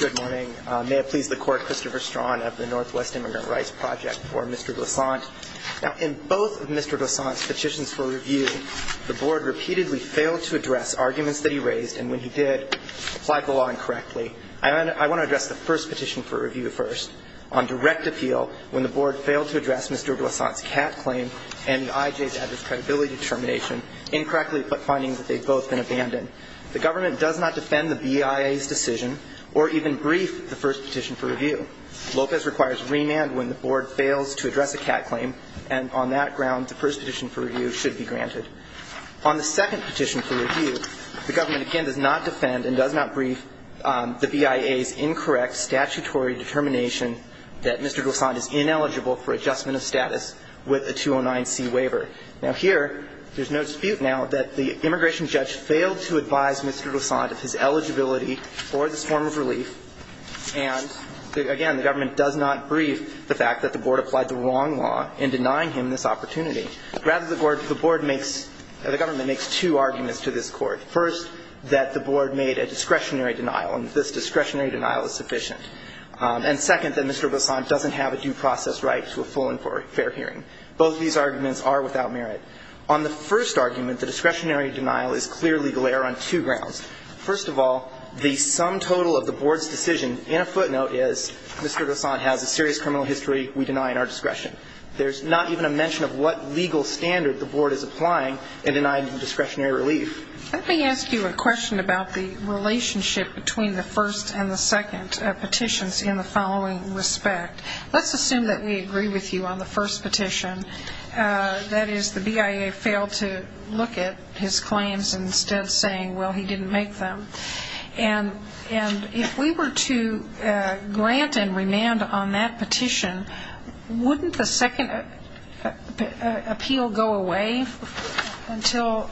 Good morning. May it please the Court, Christopher Strawn of the Northwest Immigrant Rights Project for Mr. Doissaint. In both of Mr. Doissaint's petitions for review, the Board repeatedly failed to address arguments that he raised, and when he did, applied the law incorrectly. I want to address the first petition for review first. On direct appeal, when the Board failed to address Mr. Doissaint's CAT claim and the IJ's adverse credibility determination, incorrectly put findings that they had both been abandoned. The Government does not defend the BIA's decision or even brief the first petition for review. Lopez requires remand when the Board fails to address a CAT claim, and on that ground, the first petition for review should be granted. On the second petition for review, the Government again does not defend and does not brief the BIA's incorrect statutory determination that Mr. Doissaint is ineligible for adjustment of status with a 209C waiver. Now here, there's no dispute now that the immigration judge failed to advise Mr. Doissaint of his eligibility for this form of relief, and again, the Government does not brief the fact that the Board applied the wrong law in denying him this opportunity. Rather, the Board makes the Government makes two arguments to this Court. First, that the Board made a discretionary denial, and this discretionary denial is sufficient. And second, that Mr. Doissaint doesn't have a due process right to a full and fair hearing. Both of these arguments are without merit. On the first argument, the discretionary denial is clearly a glare on two grounds. First of all, the sum total of the Board's decision in a footnote is Mr. Doissaint has a serious criminal history we deny in our discretion. There's not even a mention of what legal standard the Board is applying in denying him discretionary relief. Let me ask you a question about the relationship between the first and the second petitions in the following respect. Let's assume that we agree with you on the first petition, that is, the BIA failed to look at his claims instead of saying, well, he didn't make them. And if we were to grant and remand on that petition, wouldn't the second appeal go away until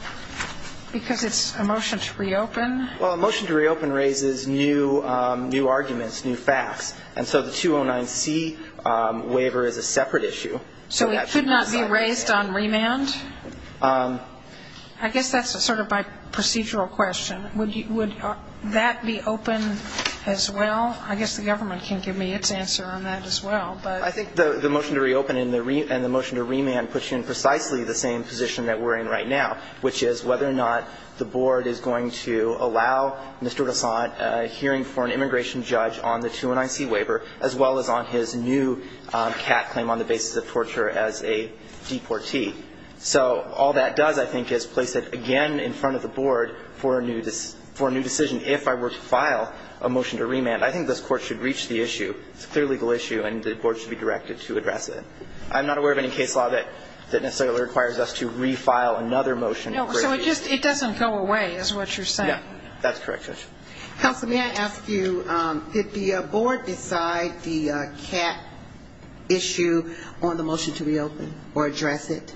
because it's a motion to reopen? The motion to reopen raises new arguments, new facts. And so the 209C waiver is a separate issue. So it could not be raised on remand? I guess that's sort of my procedural question. Would that be open as well? I guess the government can give me its answer on that as well. I think the motion to reopen and the motion to remand puts you in precisely the same position that we're in right now, which is whether or not the Board is going to allow Mr. DeSantis a hearing for an immigration judge on the 209C waiver as well as on his new cat claim on the basis of torture as a deportee. So all that does, I think, is place it again in front of the Board for a new decision. If I were to file a motion to remand, I think this Court should reach the issue. It's a clear legal issue, and the Board should be directed to address it. I'm not aware of any case law that necessarily requires us to refile another motion. So it just doesn't go away, is what you're saying? That's correct, Judge. Counsel, may I ask you, did the Board decide the cat issue on the motion to reopen or address it?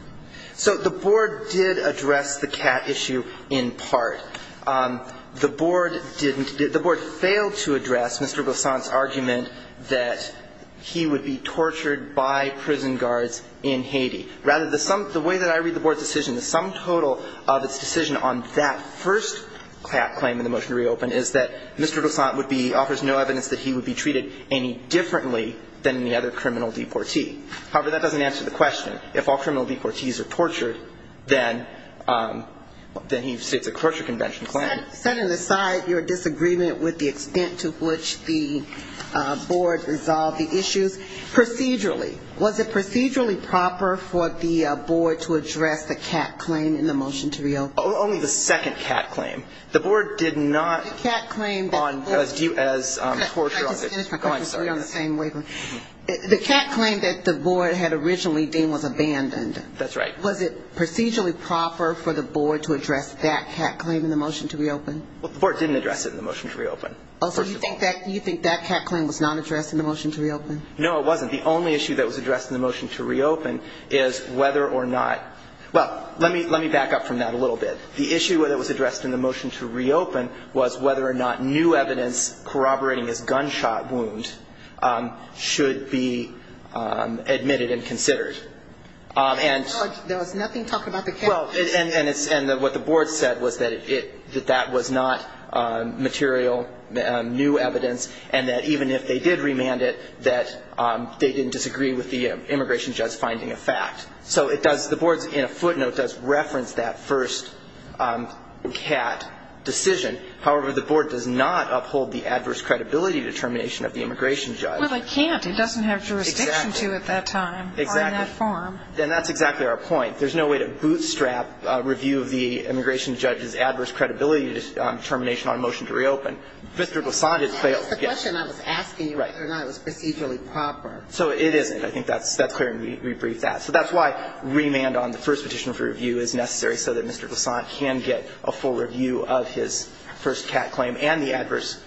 So the Board did address the cat issue in part. The Board didn't. The Board failed to address Mr. Gosant's argument that he would be tortured by prison guards in Haiti. Rather, the sum, the way that I read the Board's decision, the sum total of its decision on that first cat claim in the motion to reopen is that Mr. Gosant would be, offers no evidence that he would be treated any differently than any other criminal deportee. However, that doesn't answer the question. If all criminal deportees are tortured, then he states a torture convention claim. Setting aside your disagreement with the extent to which the Board resolved the issues, procedurally, was it procedurally proper for the Board to address the cat claim in the motion to reopen? Only the second cat claim. The Board did not. The cat claim that the Board. I was due as torture on it. The cat claim that the Board had originally deemed was abandoned. That's right. And was it procedurally proper for the Board to address that cat claim in the motion to reopen? Well, the Board didn't address it in the motion to reopen, first of all. Oh, so you think that cat claim was not addressed in the motion to reopen? No, it wasn't. The only issue that was addressed in the motion to reopen is whether or not, well, let me back up from that a little bit. The issue that was addressed in the motion to reopen was whether or not new evidence corroborating his gunshot wound should be admitted and considered. There was nothing talking about the cat. Well, and what the Board said was that that was not material new evidence and that even if they did remand it, that they didn't disagree with the immigration judge finding a fact. So it does, the Board in a footnote does reference that first cat decision. However, the Board does not uphold the adverse credibility determination of the immigration judge. Well, they can't. It doesn't have jurisdiction to at that time. Exactly. Or in that form. And that's exactly our point. There's no way to bootstrap a review of the immigration judge's adverse credibility determination on a motion to reopen. Mr. Glissant has failed. That's the question I was asking whether or not it was procedurally proper. So it isn't. I think that's clear and we briefed that. So that's why remand on the first petition for review is necessary so that Mr. Glissant can get a full review of his first cat claim and the adverse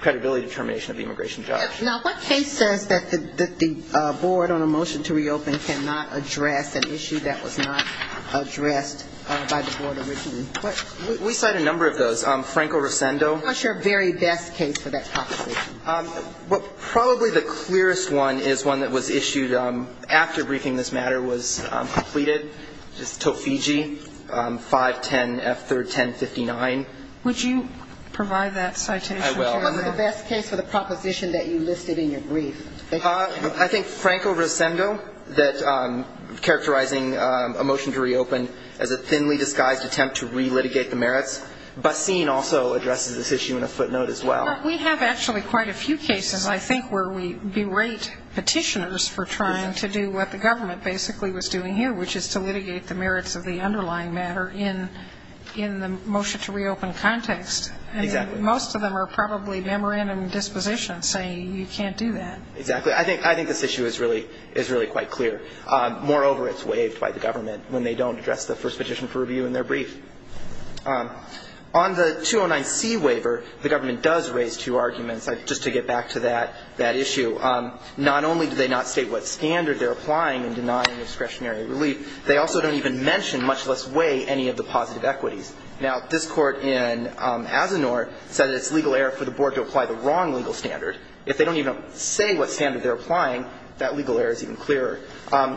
credibility determination of the immigration judge. Now, what case says that the Board on a motion to reopen cannot address an issue that was not addressed by the Board originally? We cite a number of those. Franco-Rosendo. What's your very best case for that proposition? Probably the clearest one is one that was issued after briefing this matter was completed, which is Tofigi 510F31059. Would you provide that citation? I will. What's the best case for the proposition that you listed in your brief? I think Franco-Rosendo, that characterizing a motion to reopen as a thinly disguised attempt to re-litigate the merits. Basin also addresses this issue in a footnote as well. We have actually quite a few cases, I think, where we berate petitioners for trying to do what the government basically was doing here, which is to litigate the merits of the underlying matter in the motion to reopen context. Exactly. Most of them are probably memorandum dispositions saying you can't do that. Exactly. I think this issue is really quite clear. Moreover, it's waived by the government when they don't address the first petition for review in their brief. On the 209C waiver, the government does raise two arguments, just to get back to that issue. Not only do they not state what standard they're applying in denying discretionary relief, they also don't even mention, much less weigh, any of the positive equities. Now, this Court in Asinor said it's legal error for the Board to apply the wrong legal standard. If they don't even say what standard they're applying, that legal error is even clearer.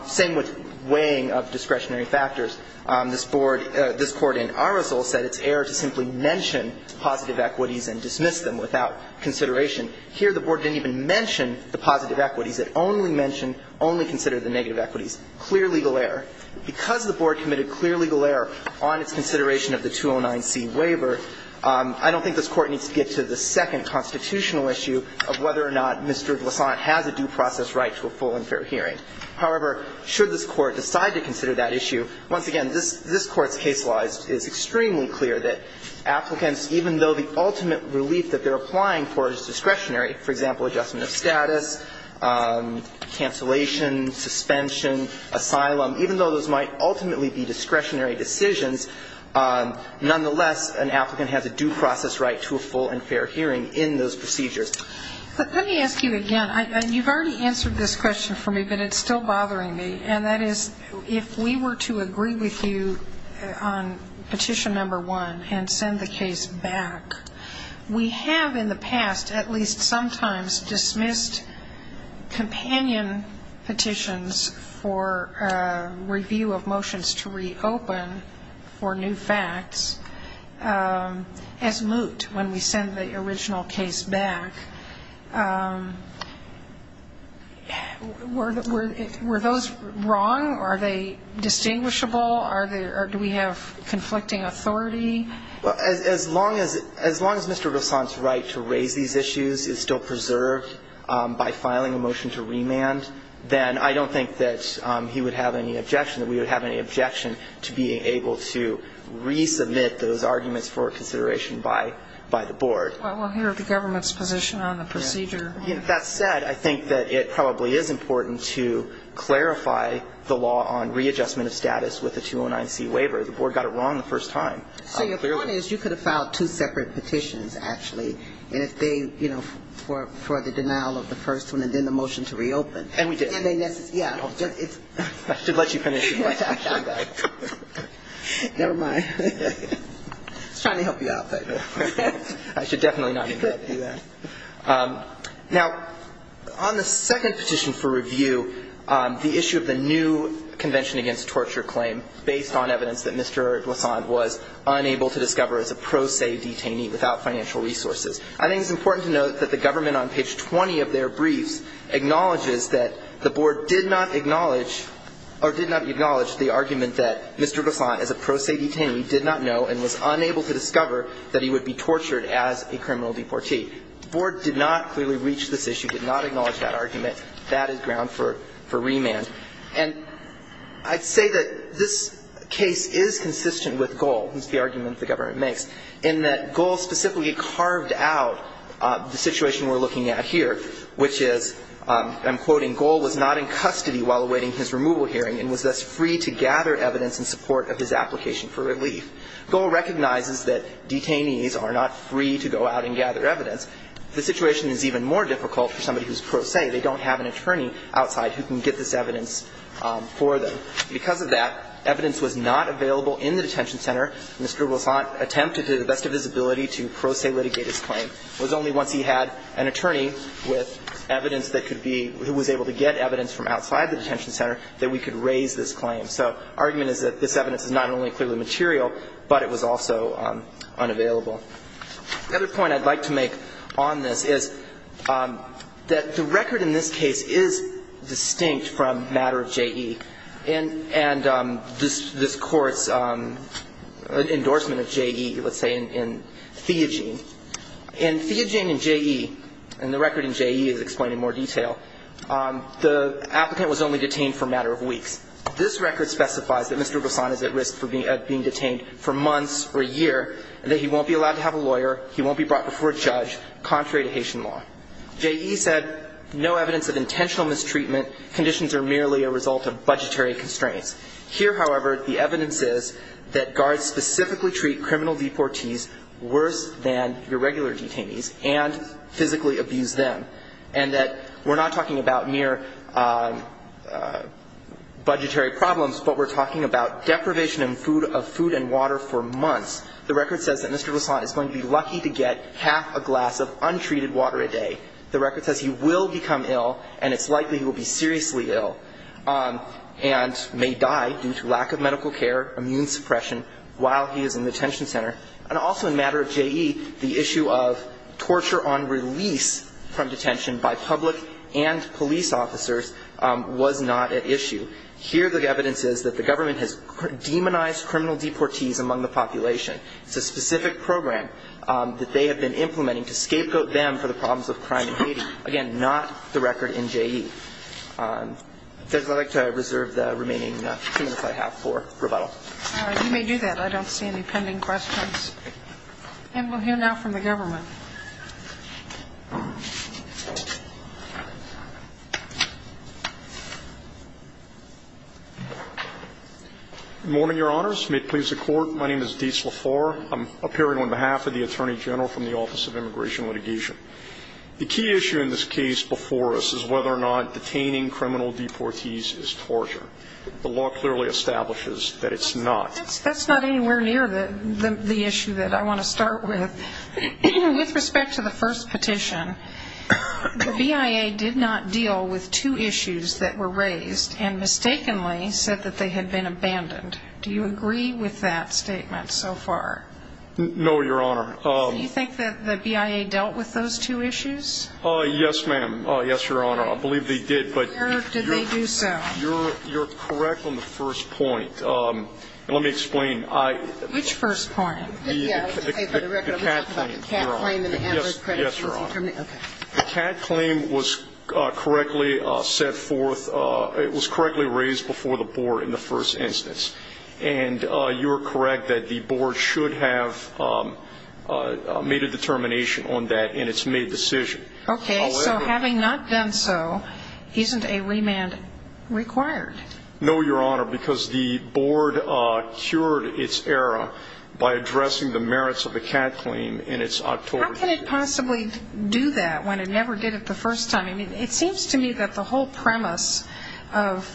Same with weighing of discretionary factors. This Board – this Court in Arosol said it's error to simply mention positive equities and dismiss them without consideration. Here, the Board didn't even mention the positive equities. It only mentioned, only considered the negative equities. Clear legal error. Because the Board committed clear legal error on its consideration of the 209C waiver, I don't think this Court needs to get to the second constitutional issue of whether or not Mr. Glissant has a due process right to a full and fair hearing. However, should this Court decide to consider that issue, once again, this Court's case-wise is extremely clear that applicants, even though the ultimate relief that they're applying for is discretionary, for example, adjustment of status, cancellation, suspension, asylum, even though those might ultimately be discretionary decisions, nonetheless, an applicant has a due process right to a full and fair hearing in those procedures. But let me ask you again. You've already answered this question for me, but it's still bothering me. And that is, if we were to agree with you on Petition No. 1 and send the case back, were those wrong? Are they distinguishable? Do we have conflicting authority? Well, as long as Mr. Glissant's right to raise these issues is still preserved by filing a motion to remand, then I don't think we have a right to do that. And I don't think that he would have any objection, that we would have any objection to being able to resubmit those arguments for consideration by the Board. Well, here are the government's position on the procedure. That said, I think that it probably is important to clarify the law on readjustment of status with the 209C waiver. The Board got it wrong the first time. So your point is you could have filed two separate petitions, actually, and if they didn't, you know, for the denial of the first one and then the motion to reopen. And we did. And they necessarily --. I should let you finish. Never mind. I was trying to help you out. I should definitely not do that. Now, on the second petition for review, the issue of the new Convention Against Torture claim based on evidence that Mr. Glissant was unable to discover as a pro se detainee without financial resources. I think it's important to note that the government on page 20 of their briefs acknowledges that the Board did not acknowledge or did not acknowledge the argument that Mr. Glissant as a pro se detainee did not know and was unable to discover that he would be tortured as a criminal deportee. The Board did not clearly reach this issue, did not acknowledge that argument. That is ground for remand. And I'd say that this case is consistent with Goal. It's the argument the government makes in that Goal specifically carved out the situation we're looking at here, which is, I'm quoting, Goal was not in custody while awaiting his removal hearing and was thus free to gather evidence in support of his application for relief. Goal recognizes that detainees are not free to go out and gather evidence. The situation is even more difficult for somebody who's pro se. They don't have an attorney outside who can get this evidence for them. So because of that, evidence was not available in the detention center. Mr. Glissant attempted to the best of his ability to pro se litigate his claim. It was only once he had an attorney with evidence that could be, who was able to get evidence from outside the detention center that we could raise this claim. So the argument is that this evidence is not only clearly material, but it was also unavailable. The other point I'd like to make on this is that the record in this case is distinct from matter of J.E. And this Court's endorsement of J.E., let's say, in Theogene. In Theogene and J.E., and the record in J.E. is explained in more detail, the applicant was only detained for a matter of weeks. This record specifies that Mr. Glissant is at risk of being detained for months or a year and that he won't be allowed to have a lawyer, he won't be brought before a judge, contrary to Haitian law. J.E. said, no evidence of intentional mistreatment. Conditions are merely a result of budgetary constraints. Here, however, the evidence is that guards specifically treat criminal deportees worse than your regular detainees and physically abuse them. And that we're not talking about mere budgetary problems, but we're talking about deprivation of food and water for months. The record says that Mr. Glissant is going to be lucky to get half a glass of The record says he will become ill, and it's likely he will be seriously ill and may die due to lack of medical care, immune suppression, while he is in the detention center. And also in a matter of J.E., the issue of torture on release from detention by public and police officers was not at issue. Here, the evidence is that the government has demonized criminal deportees among the population. It's a specific program that they have been implementing to scapegoat them for the problems of crime in Haiti. Again, not the record in J.E. Judge, I'd like to reserve the remaining two minutes I have for rebuttal. All right. You may do that. I don't see any pending questions. And we'll hear now from the government. Good morning, Your Honors. May it please the Court. My name is Dietz Lafour. I'm appearing on behalf of the Attorney General from the Office of Immigration and Litigation. The key issue in this case before us is whether or not detaining criminal deportees is torture. The law clearly establishes that it's not. That's not anywhere near the issue that I want to start with. With respect to the first petition, the BIA did not deal with two issues that were raised and mistakenly said that they had been abandoned. Do you agree with that statement so far? No, Your Honor. So you think that the BIA dealt with those two issues? Yes, ma'am. Yes, Your Honor. I believe they did. Where did they do so? You're correct on the first point. Let me explain. Which first point? The CAD claim, Your Honor. Yes, Your Honor. Okay. The CAD claim was correctly set forth. It was correctly raised before the Board in the first instance. And you're correct that the Board should have made a determination on that in its May decision. Okay. So having not done so, isn't a remand required? No, Your Honor, because the Board cured its error by addressing the merits of the CAD claim in its October decision. How could it possibly do that when it never did it the first time? I mean, it seems to me that the whole premise of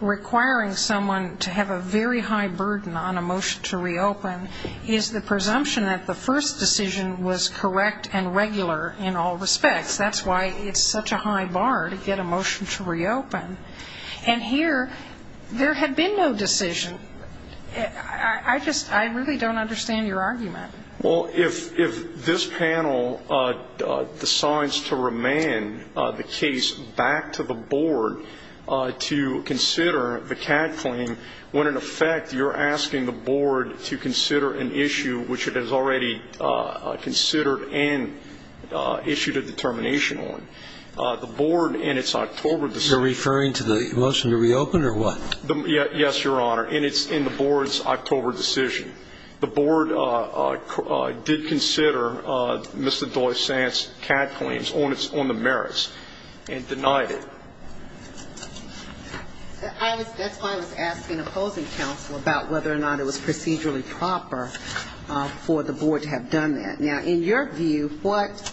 requiring someone to have a very high burden on a motion to reopen is the presumption that the first decision was correct and regular in all respects. That's why it's such a high bar to get a motion to reopen. And here there had been no decision. I just really don't understand your argument. Well, if this panel decides to remand the case back to the Board to consider the CAD claim when, in effect, you're asking the Board to consider an issue which it has already considered and issued a determination on, the Board in its October decision. You're referring to the motion to reopen or what? Yes, Your Honor. And it's in the Board's October decision. The Board did consider Mr. Doisant's CAD claims on the merits and denied it. That's why I was asking opposing counsel about whether or not it was procedurally proper for the Board to have done that. Now, in your view, what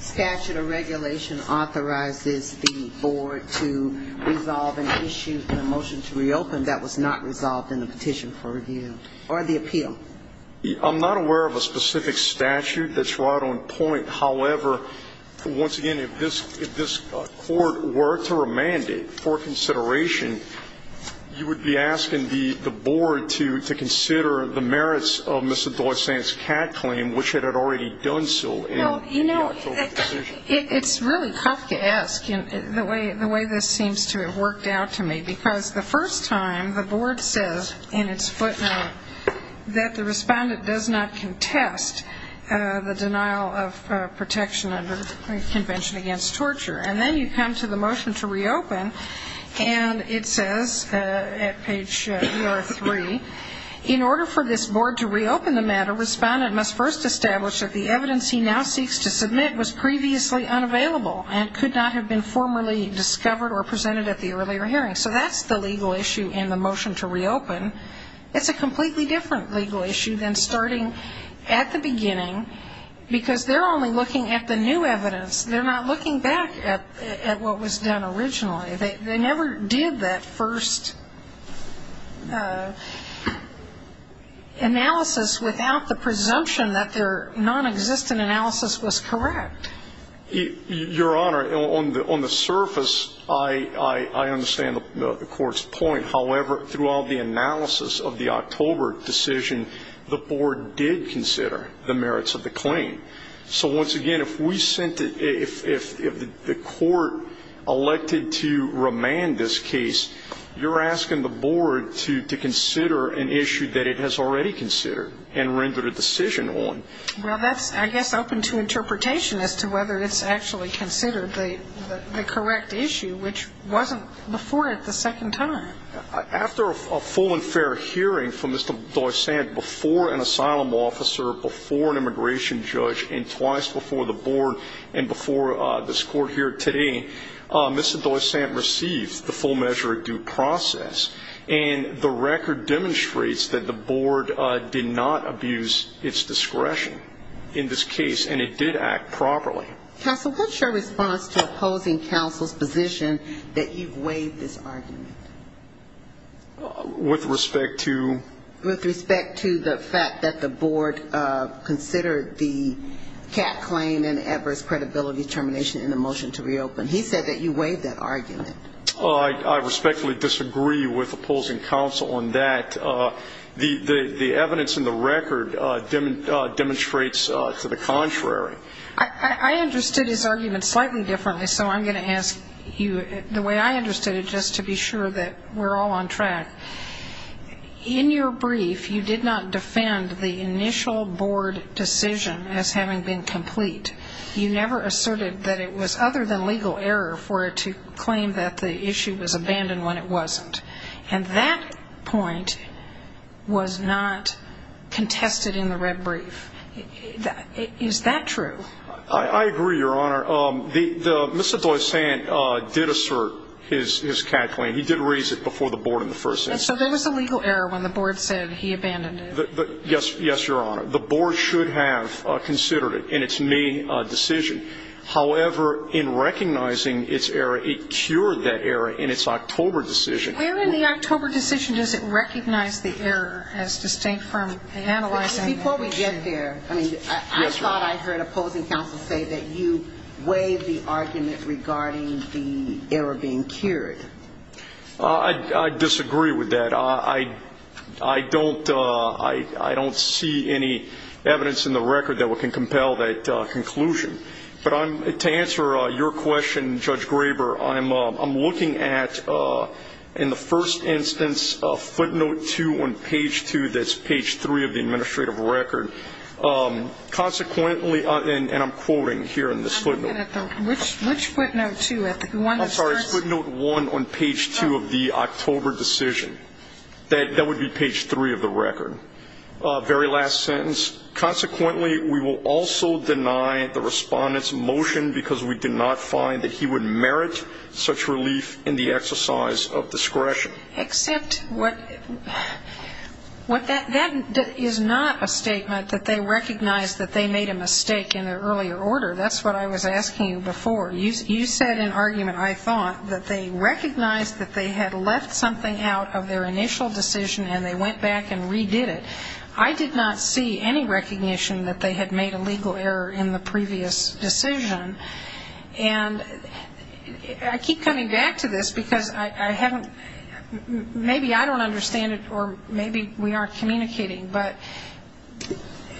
statute or regulation authorizes the Board to resolve an issue in a motion to reopen that was not resolved in the petition for review or the appeal? I'm not aware of a specific statute that's right on point. However, once again, if this Court were to remand it for consideration, you would be asking the Board to consider the merits of Mr. Doisant's CAD claim which it had already done so in the October decision. Well, you know, it's really tough to ask the way this seems to have worked out to me because the first time the Board says in its footnote that the respondent does not contest the denial of protection under the Convention Against Torture. And then you come to the motion to reopen, and it says at page 3, in order for this Board to reopen the matter, respondent must first establish that the evidence he now seeks to submit was previously unavailable and could not have been formally discovered or presented at the earlier hearing. So that's the legal issue in the motion to reopen. It's a completely different legal issue than starting at the beginning because they're only looking at the new evidence. They're not looking back at what was done originally. They never did that first analysis without the presumption that their nonexistent analysis was correct. Your Honor, on the surface, I understand the Court's point. However, throughout the analysis of the October decision, the Board did consider the merits of the claim. So once again, if we sent it, if the Court elected to remand this case, you're asking the Board to consider an issue that it has already considered and rendered a decision on. Well, that's, I guess, open to interpretation as to whether it's actually considered the correct issue, which wasn't before it the second time. After a full and fair hearing from Mr. Doysante before an asylum officer, before an immigration judge, and twice before the Board and before this Court here today, Mr. Doysante received the full measure of due process. And the record demonstrates that the Board did not abuse its discretion in this case, and it did act properly. Counsel, what's your response to opposing counsel's position that you've waived this argument? With respect to? With respect to the fact that the Board considered the Catt claim and Evers' credibility termination in the motion to reopen. He said that you waived that argument. I respectfully disagree with opposing counsel on that. The evidence in the record demonstrates to the contrary. I understood his argument slightly differently, so I'm going to ask you the way I understood it just to be sure that we're all on track. In your brief, you did not defend the initial Board decision as having been complete. You never asserted that it was other than legal error for it to claim that the issue was abandoned when it wasn't. And that point was not contested in the red brief. Is that true? I agree, Your Honor. Mr. Doysante did assert his Catt claim. He did raise it before the Board in the first instance. And so there was a legal error when the Board said he abandoned it. Yes, Your Honor. The Board should have considered it in its May decision. However, in recognizing its error, it cured that error in its October decision. Where in the October decision does it recognize the error as distinct from analyzing the motion? Before we get there, I mean, I thought I heard opposing counsel say that you waived the argument regarding the error being cured. I disagree with that. I don't see any evidence in the record that can compel that conclusion. But to answer your question, Judge Graber, I'm looking at, in the first instance, footnote 2 on page 2, that's page 3 of the administrative record. Consequently, and I'm quoting here in this footnote. Which footnote 2? I'm sorry, footnote 1 on page 2 of the October decision. That would be page 3 of the record. Very last sentence. Consequently, we will also deny the Respondent's motion because we did not find that he would merit such relief in the exercise of discretion. Except what that is not a statement that they recognize that they made a mistake in an earlier order. That's what I was asking you before. You said in argument, I thought, that they recognized that they had left something out of their initial decision and they went back and redid it. I did not see any recognition that they had made a legal error in the previous decision. And I keep coming back to this because I haven't ‑‑ maybe I don't understand it or maybe we aren't communicating. But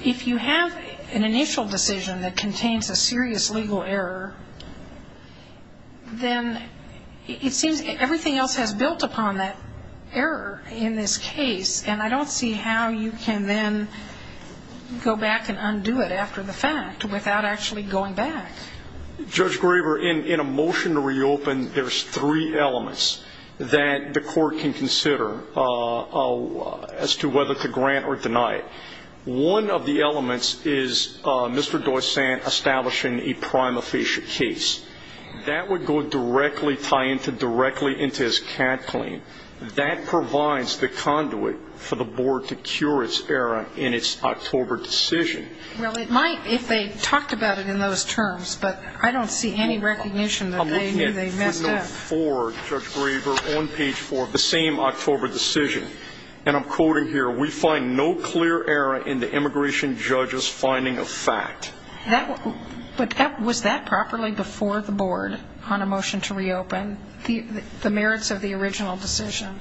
if you have an initial decision that contains a serious legal error, then it seems everything else has built upon that error in this case. And I don't see how you can then go back and undo it after the fact without actually going back. Judge Graber, in a motion to reopen, there's three elements that the Court can consider as to whether to grant or deny it. One of the elements is Mr. Doysant establishing a prima facie case. That would go directly, tie into directly into his CAD claim. That provides the conduit for the Board to cure its error in its October decision. Well, it might if they talked about it in those terms. But I don't see any recognition that they knew they messed up. I'm looking at footnote four, Judge Graber, on page four of the same October decision. And I'm quoting here, we find no clear error in the immigration judge's finding of fact. Was that properly before the Board on a motion to reopen, the merits of the original decision?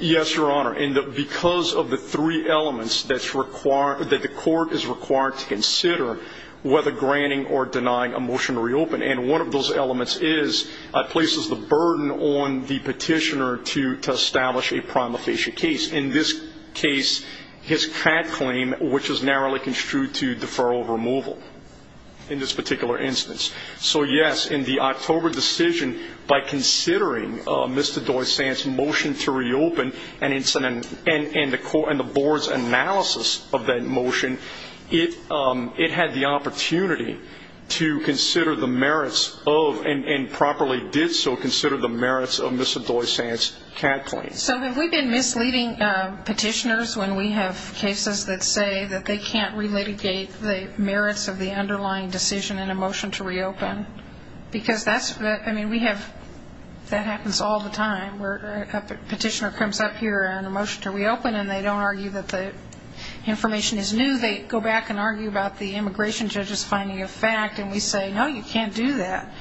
Yes, Your Honor. And because of the three elements that the Court is required to consider whether granting or denying a motion to reopen. And one of those elements is it places the burden on the petitioner to establish a prima facie case. In this case, his CAD claim, which is narrowly construed to deferral of removal in this particular instance. So, yes, in the October decision, by considering Mr. Doysant's motion to reopen, and the Board's analysis of that motion, it had the opportunity to consider the merits of, and properly did so consider the merits of Mr. Doysant's CAD claim. So have we been misleading petitioners when we have cases that say that they can't relitigate the merits of the underlying decision in a motion to reopen? Because that happens all the time where a petitioner comes up here in a motion to reopen, and they don't argue that the information is new. They go back and argue about the immigration judge's finding of fact, and we say, no, you can't do that.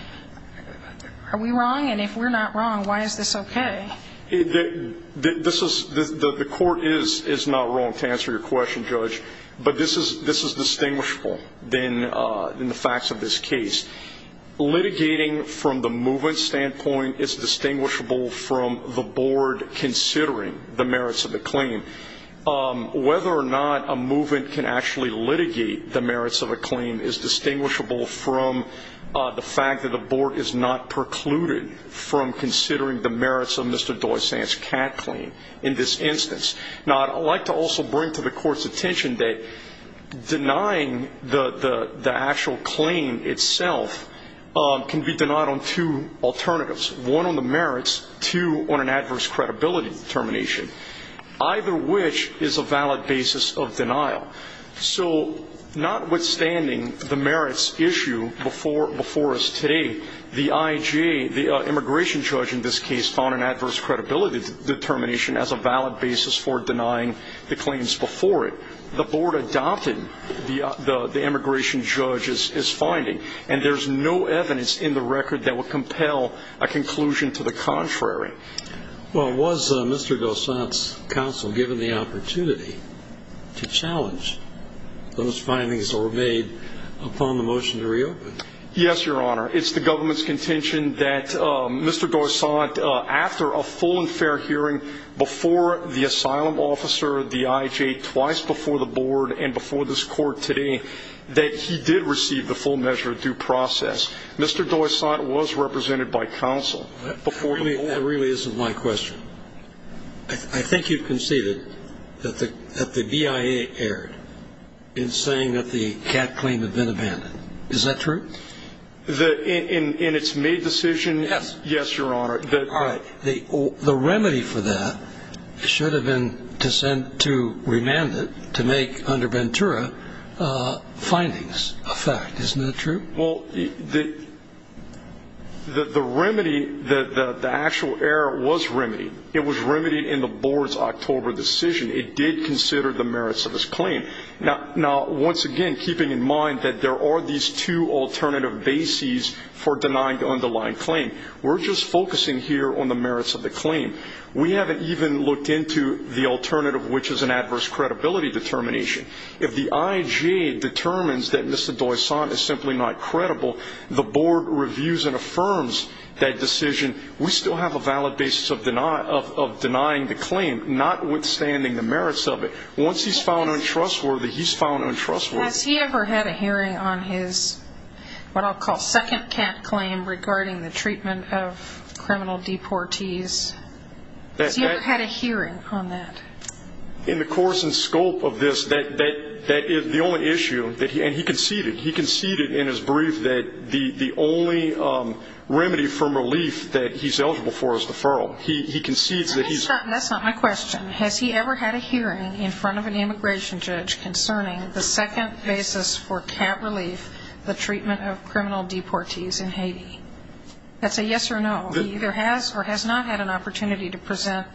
Are we wrong? And if we're not wrong, why is this okay? The Court is not wrong to answer your question, Judge. But this is distinguishable in the facts of this case. Litigating from the movement standpoint is distinguishable from the Board considering the merits of the claim. Whether or not a movement can actually litigate the merits of a claim is distinguishable from the fact that the Board is not precluded from considering the merits of Mr. Doysant's CAD claim in this instance. Now, I'd like to also bring to the Court's attention that denying the actual claim itself can be denied on two alternatives, one on the merits, two on an adverse credibility determination, either which is a valid basis of denial. So notwithstanding the merits issue before us today, the IJ, the immigration judge in this case, determination as a valid basis for denying the claims before it. The Board adopted the immigration judge's finding, and there's no evidence in the record that would compel a conclusion to the contrary. Well, was Mr. Doysant's counsel given the opportunity to challenge those findings that were made upon the motion to reopen? Yes, Your Honor. It's the government's contention that Mr. Doysant, after a full and fair hearing before the asylum officer, the IJ, twice before the Board and before this Court today, that he did receive the full measure of due process. Mr. Doysant was represented by counsel before the Board. That really isn't my question. I think you've conceded that the BIA erred in saying that the CAD claim had been abandoned. Is that true? In its May decision? Yes. Yes, Your Honor. All right. The remedy for that should have been to remand it to make under Ventura findings a fact. Isn't that true? Well, the remedy, the actual error was remedied. It was remedied in the Board's October decision. It did consider the merits of its claim. Now, once again, keeping in mind that there are these two alternative bases for denying the underlying claim, we're just focusing here on the merits of the claim. We haven't even looked into the alternative, which is an adverse credibility determination. If the IJ determines that Mr. Doysant is simply not credible, the Board reviews and affirms that decision. We still have a valid basis of denying the claim, notwithstanding the merits of it. Once he's found untrustworthy, he's found untrustworthy. Has he ever had a hearing on his what I'll call second CAD claim regarding the treatment of criminal deportees? Has he ever had a hearing on that? In the course and scope of this, that is the only issue. And he conceded. He conceded in his brief that the only remedy from relief that he's eligible for is deferral. He concedes that he's Let me stop. That's not my question. Has he ever had a hearing in front of an immigration judge concerning the second basis for CAT relief, the treatment of criminal deportees in Haiti? That's a yes or no. He either has or has not had an opportunity to present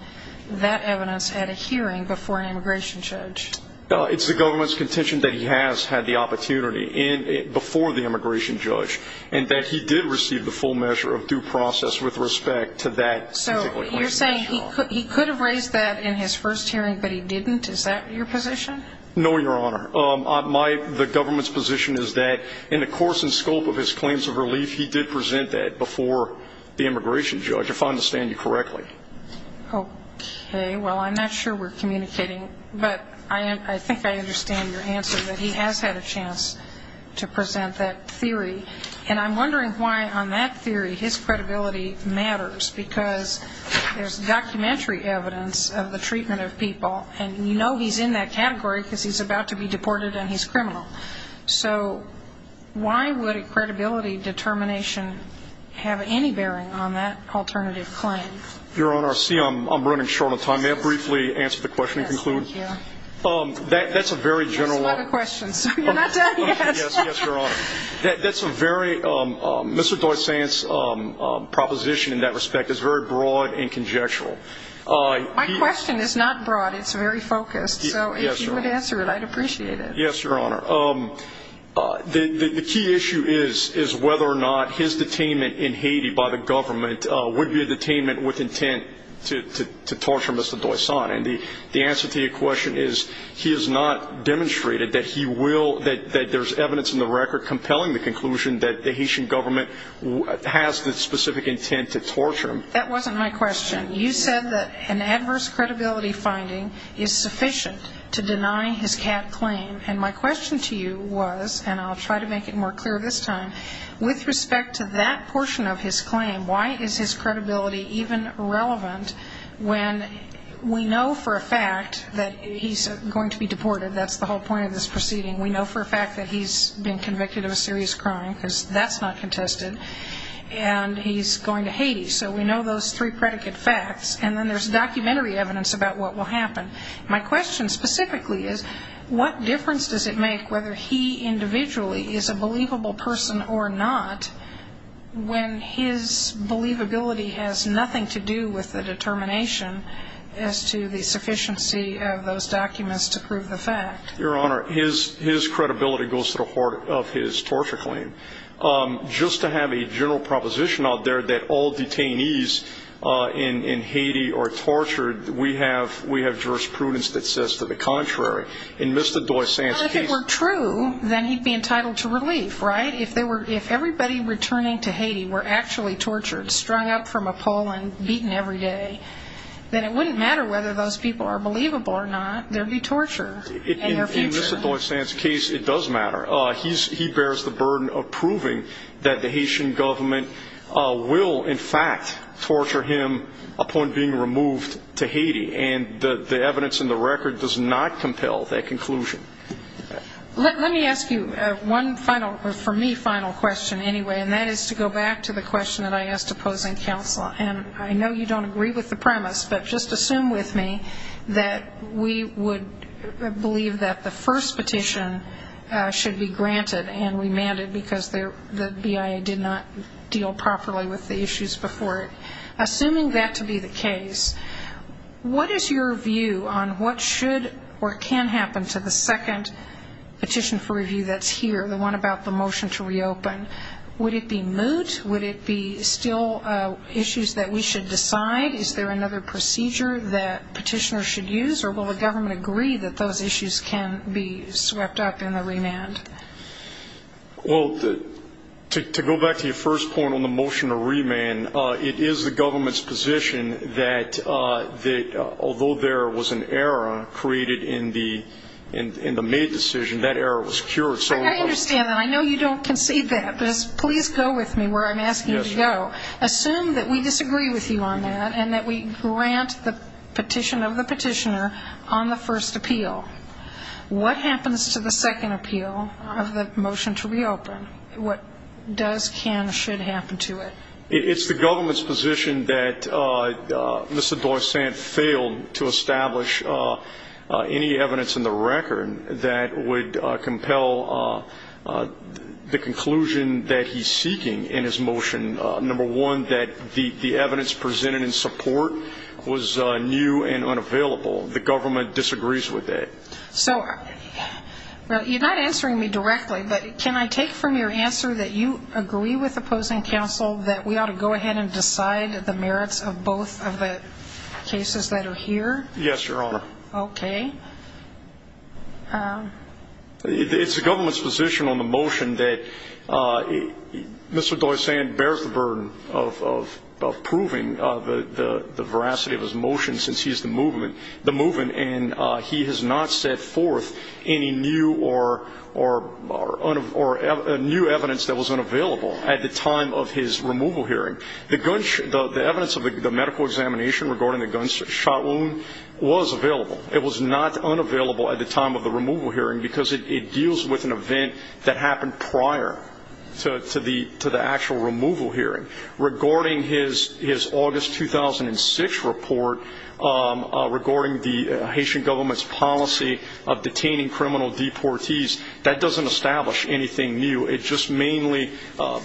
that evidence at a hearing before an immigration judge. It's the government's contention that he has had the opportunity before the immigration judge and that he did receive the full measure of due process with respect to that So you're saying he could have raised that in his first hearing, but he didn't? Is that your position? No, Your Honor. The government's position is that in the course and scope of his claims of relief, he did present that before the immigration judge, if I understand you correctly. Okay. Well, I'm not sure we're communicating, but I think I understand your answer, that he has had a chance to present that theory. And I'm wondering why on that theory his credibility matters, because there's documentary evidence of the treatment of people, and you know he's in that category because he's about to be deported and he's criminal. So why would a credibility determination have any bearing on that alternative claim? Your Honor, see, I'm running short on time. May I briefly answer the question and conclude? Yes, thank you. That's a very general one. That's not a question, so you're not done yet. Yes, Your Honor. That's a very – Mr. Doissant's proposition in that respect is very broad and conjectural. My question is not broad. It's very focused. So if you would answer it, I'd appreciate it. Yes, Your Honor. The key issue is whether or not his detainment in Haiti by the government would be a detainment with intent to torture Mr. Doissant. And the answer to your question is he has not demonstrated that he will – that there's evidence in the record compelling the conclusion that the Haitian government has the specific intent to torture him. That wasn't my question. You said that an adverse credibility finding is sufficient to deny his cat claim. And my question to you was, and I'll try to make it more clear this time, with respect to that portion of his claim, why is his credibility even relevant when we know for a fact that he's going to be deported? That's the whole point of this proceeding. We know for a fact that he's been convicted of a serious crime because that's not contested. And he's going to Haiti. So we know those three predicate facts. And then there's documentary evidence about what will happen. My question specifically is what difference does it make whether he individually is a believable person or not when his believability has nothing to do with the determination as to the sufficiency of those documents to prove the fact? Your Honor, his credibility goes to the heart of his torture claim. Just to have a general proposition out there that all detainees in Haiti are tortured, we have jurisprudence that says to the contrary. In Mr. Doisan's case. Well, if it were true, then he'd be entitled to relief, right? If everybody returning to Haiti were actually tortured, strung up from a pole and beaten every day, then it wouldn't matter whether those people are believable or not. There would be torture in their future. In Mr. Doisan's case, it does matter. He bears the burden of proving that the Haitian government will, in fact, torture him upon being removed to Haiti. And the evidence in the record does not compel that conclusion. Let me ask you one final, for me, final question anyway, and that is to go back to the question that I asked opposing counsel. And I know you don't agree with the premise, but just assume with me that we would believe that the first petition should be granted and remanded because the BIA did not deal properly with the issues before it. Assuming that to be the case, what is your view on what should or can happen to the second petition for review that's here, the one about the motion to reopen? Would it be moot? Would it be still issues that we should decide? Is there another procedure that petitioners should use? Or will the government agree that those issues can be swept up in the remand? Well, to go back to your first point on the motion to remand, it is the government's position that although there was an error created in the maid decision, that error was cured. I understand that. I know you don't concede that. But please go with me where I'm asking you to go. Yes, Your Honor. Assume that we disagree with you on that and that we grant the petition of the petitioner on the first appeal. What happens to the second appeal of the motion to reopen? What does, can, or should happen to it? It's the government's position that Mr. Dorsant failed to establish any evidence in the record that would compel the conclusion that he's seeking in his motion. Number one, that the evidence presented in support was new and unavailable. The government disagrees with that. So you're not answering me directly, but can I take from your answer that you agree with opposing counsel that we ought to go ahead and decide the merits of both of the cases that are here? Yes, Your Honor. Okay. It's the government's position on the motion that Mr. Dorsant bears the burden of proving the veracity of his motion since he's the movement, and he has not set forth any new or new evidence that was unavailable at the time of his removal hearing. The evidence of the medical examination regarding the gunshot wound was available. It was not unavailable at the time of the removal hearing because it deals with an event that happened prior to the actual removal hearing. Regarding his August 2006 report regarding the Haitian government's policy of detaining criminal deportees, that doesn't establish anything new. It just mainly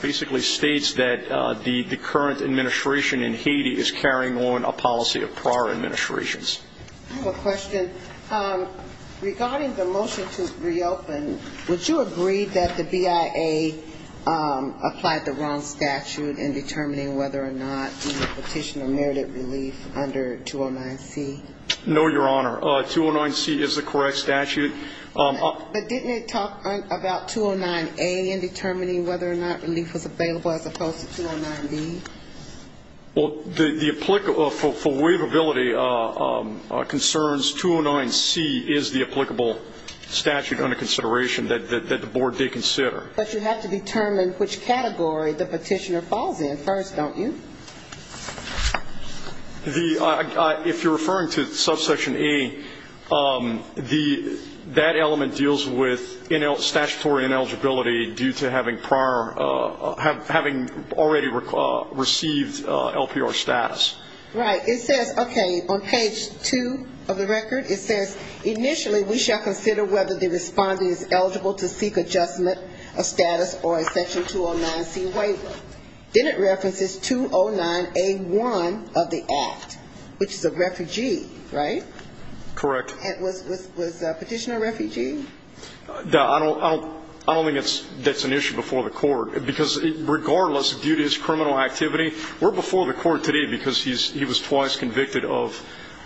basically states that the current administration in Haiti is carrying on a policy of prior administrations. I have a question. Regarding the motion to reopen, would you agree that the BIA applied the wrong statute in determining whether or not the petitioner merited relief under 209C? No, Your Honor. 209C is the correct statute. But didn't it talk about 209A in determining whether or not relief was available as opposed to 209B? Well, for waivability concerns, 209C is the applicable statute under consideration that the board did consider. But you have to determine which category the petitioner falls in first, don't you? If you're referring to subsection A, that element deals with statutory ineligibility due to having already received LPR status. Right. It says, okay, on page 2 of the record, it says, initially we shall consider whether the respondent is eligible to seek adjustment of status or a section 209C waiver. Then it references 209A1 of the act, which is a refugee, right? Correct. Was the petitioner a refugee? No, I don't think that's an issue before the court, because regardless, due to his criminal activity, we're before the court today because he was twice convicted of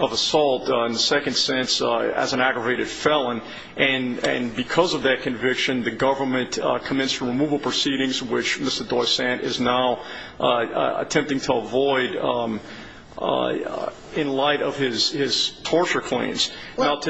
assault, in the second sense, as an aggravated felon. And because of that conviction, the government commenced removal proceedings, which Mr. Doysant is now attempting to avoid in light of his torture claims. Wait.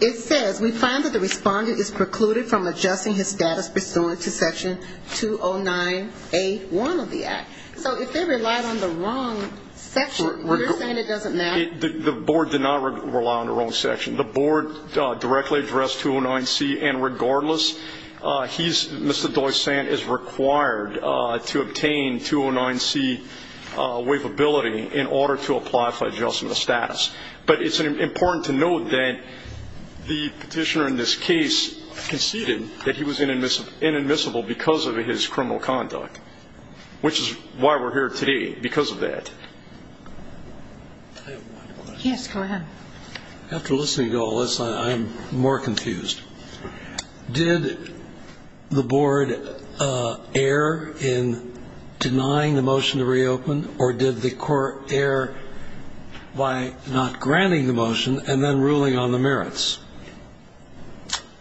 It says, we find that the respondent is precluded from adjusting his status pursuant to section 209A1 of the act. So if they relied on the wrong section, you're saying it doesn't matter? The board did not rely on the wrong section. The board directly addressed 209C. And regardless, Mr. Doysant is required to obtain 209C waivability in order to apply for adjustment of status. But it's important to note that the petitioner in this case conceded that he was inadmissible because of his criminal conduct, which is why we're here today, because of that. Yes, go ahead. After listening to all this, I am more confused. Did the board err in denying the motion to reopen, or did the court err by not granting the motion and then ruling on the merits?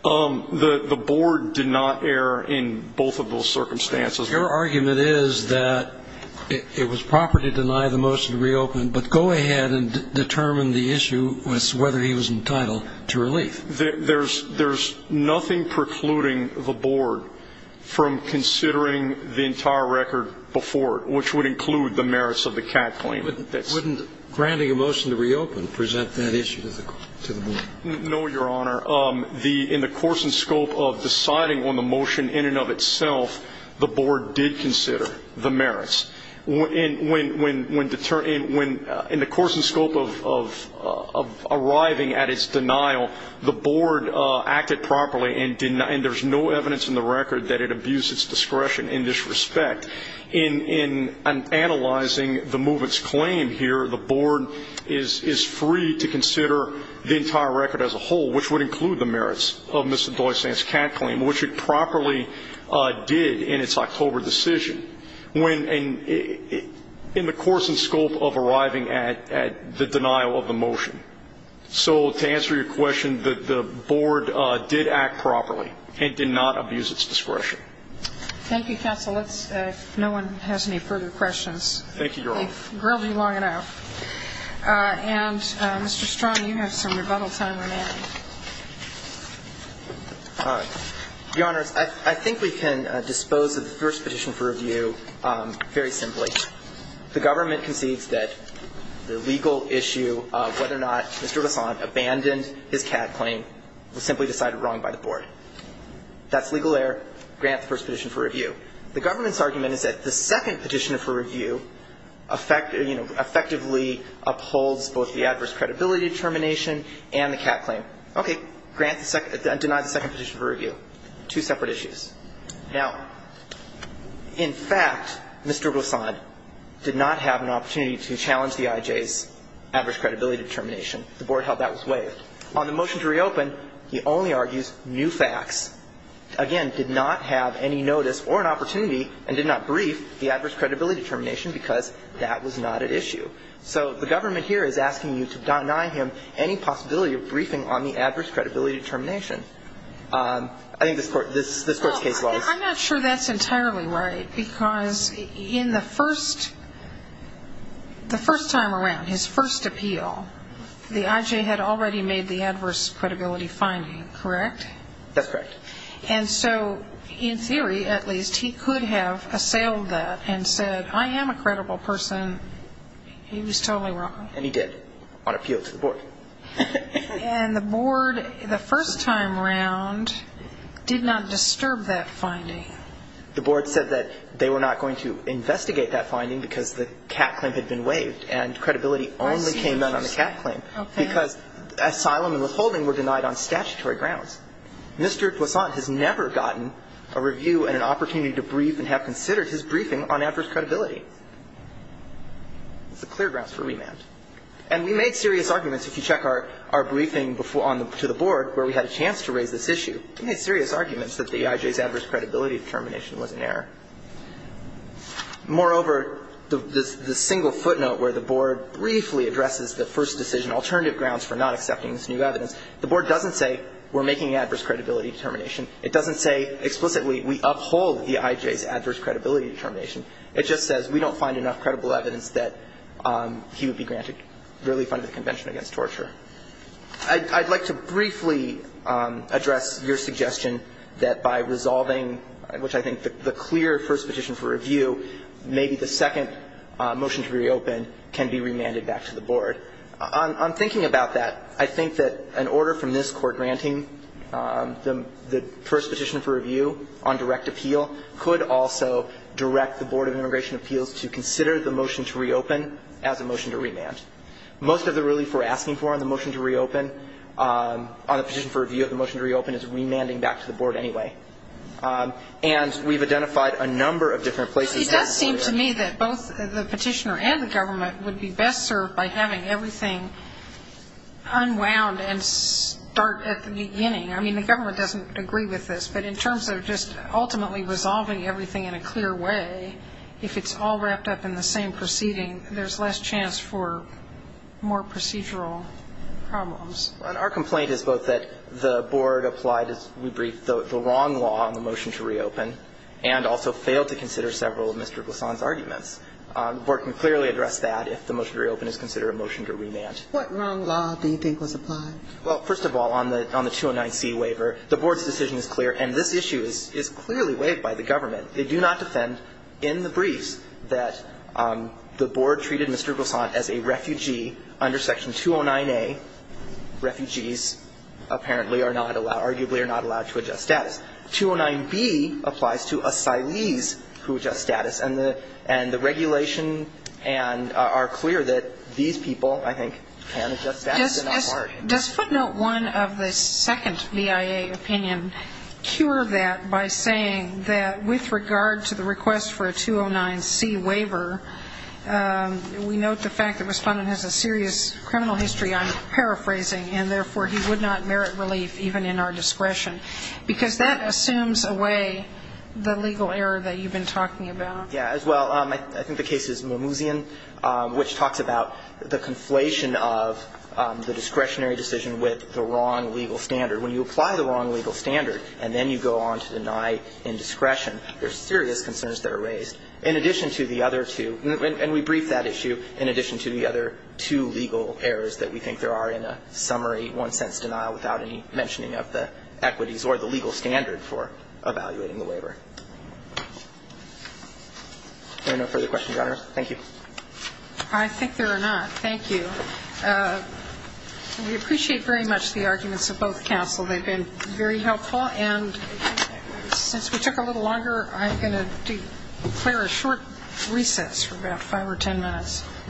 The board did not err in both of those circumstances. Your argument is that it was proper to deny the motion to reopen, but go ahead and determine the issue was whether he was entitled to relief. There's nothing precluding the board from considering the entire record before it, which would include the merits of the Catt claim. Wouldn't granting a motion to reopen present that issue to the board? No, Your Honor. In the course and scope of deciding on the motion in and of itself, the board did consider the merits. In the course and scope of arriving at its denial, the board acted properly and there's no evidence in the record that it abused its discretion in this respect. In analyzing the movement's claim here, the board is free to consider the entire record as a whole, which would include the merits of Mr. Doysan's Catt claim, which it properly did in its October decision when in the course and scope of arriving at the denial of the motion. So to answer your question, the board did act properly and did not abuse its discretion. Thank you, counsel. Let's see if no one has any further questions. Thank you, Your Honor. They've grilled me long enough. And, Mr. Strong, you have some rebuttal time remaining. Your Honors, I think we can dispose of the first petition for review very simply. The government concedes that the legal issue of whether or not Mr. Doysan abandoned his Catt claim was simply decided wrong by the board. That's legal error. Grant the first petition for review. The government's argument is that the second petition for review, you know, effectively upholds both the adverse credibility determination and the Catt claim. Okay. Deny the second petition for review. Two separate issues. Now, in fact, Mr. Doysan did not have an opportunity to challenge the IJ's adverse credibility determination. The board held that was waived. On the motion to reopen, he only argues new facts. Again, did not have any notice or an opportunity and did not brief the adverse credibility determination because that was not at issue. So the government here is asking you to deny him any possibility of briefing on the adverse credibility determination. I think this Court's case was. I'm not sure that's entirely right because in the first time around, his first appeal, the IJ had already made the adverse credibility finding, correct? That's correct. And so in theory, at least, he could have assailed that and said, I am a credible person. He was totally wrong. And he did on appeal to the board. And the board, the first time around, did not disturb that finding. The board said that they were not going to investigate that finding because the Catt claim had been waived and credibility only came down on the Catt claim. Okay. Because asylum and withholding were denied on statutory grounds. Mr. Kwasant has never gotten a review and an opportunity to brief and have considered his briefing on adverse credibility. It's a clear grounds for remand. And we made serious arguments, if you check our briefing to the board, where we had a chance to raise this issue, we made serious arguments that the IJ's adverse credibility determination was in error. Moreover, the single footnote where the board briefly addresses the first decision alternative grounds for not accepting this new evidence, the board doesn't say we're making adverse credibility determination. It doesn't say explicitly we uphold the IJ's adverse credibility determination. It just says we don't find enough credible evidence that he would be granted really funded convention against torture. I'd like to briefly address your suggestion that by resolving, which I think the clear first petition for review, maybe the second motion to reopen can be remanded back to the board. I'm thinking about that. I think that an order from this court granting the first petition for review on direct appeal could also direct the Board of Immigration Appeals to consider the motion to reopen as a motion to remand. Most of the relief we're asking for on the motion to reopen, on the petition for review of the motion to reopen, is remanding back to the board anyway. And we've identified a number of different places. It does seem to me that both the petitioner and the government would be best served by having everything unwound and start at the beginning. I mean, the government doesn't agree with this. But in terms of just ultimately resolving everything in a clear way, if it's all wrapped up in the same proceeding, there's less chance for more procedural problems. Our complaint is both that the board applied, as we briefed, the wrong law on the motion to reopen, and also failed to consider several of Mr. Glissant's arguments. The board can clearly address that if the motion to reopen is considered a motion to remand. What wrong law do you think was applied? Well, first of all, on the 209C waiver, the board's decision is clear, and this issue is clearly waived by the government. They do not defend in the briefs that the board treated Mr. Glissant as a refugee under Section 209A. Refugees apparently are not allowed, arguably are not allowed to adjust status. 209B applies to asylees who adjust status. And the regulation and our clear that these people, I think, can adjust status. Does footnote 1 of the second BIA opinion cure that by saying that with regard to the request for a 209C waiver, we note the fact that Respondent has a serious criminal history on paraphrasing and, therefore, he would not merit relief even in our discretion. Because that assumes away the legal error that you've been talking about. Yeah. As well, I think the case is Mamouzian, which talks about the conflation of the discretionary decision with the wrong legal standard. When you apply the wrong legal standard and then you go on to deny indiscretion, there's serious concerns that are raised. In addition to the other two, and we briefed that issue, in addition to the other two legal errors that we think there are in a summary without any mentioning of the equities or the legal standard for evaluating the waiver. Are there no further questions, Your Honor? Thank you. I think there are not. Thank you. We appreciate very much the arguments of both counsel. They've been very helpful. And since we took a little longer, I'm going to declare a short recess for about 5 or 10 minutes.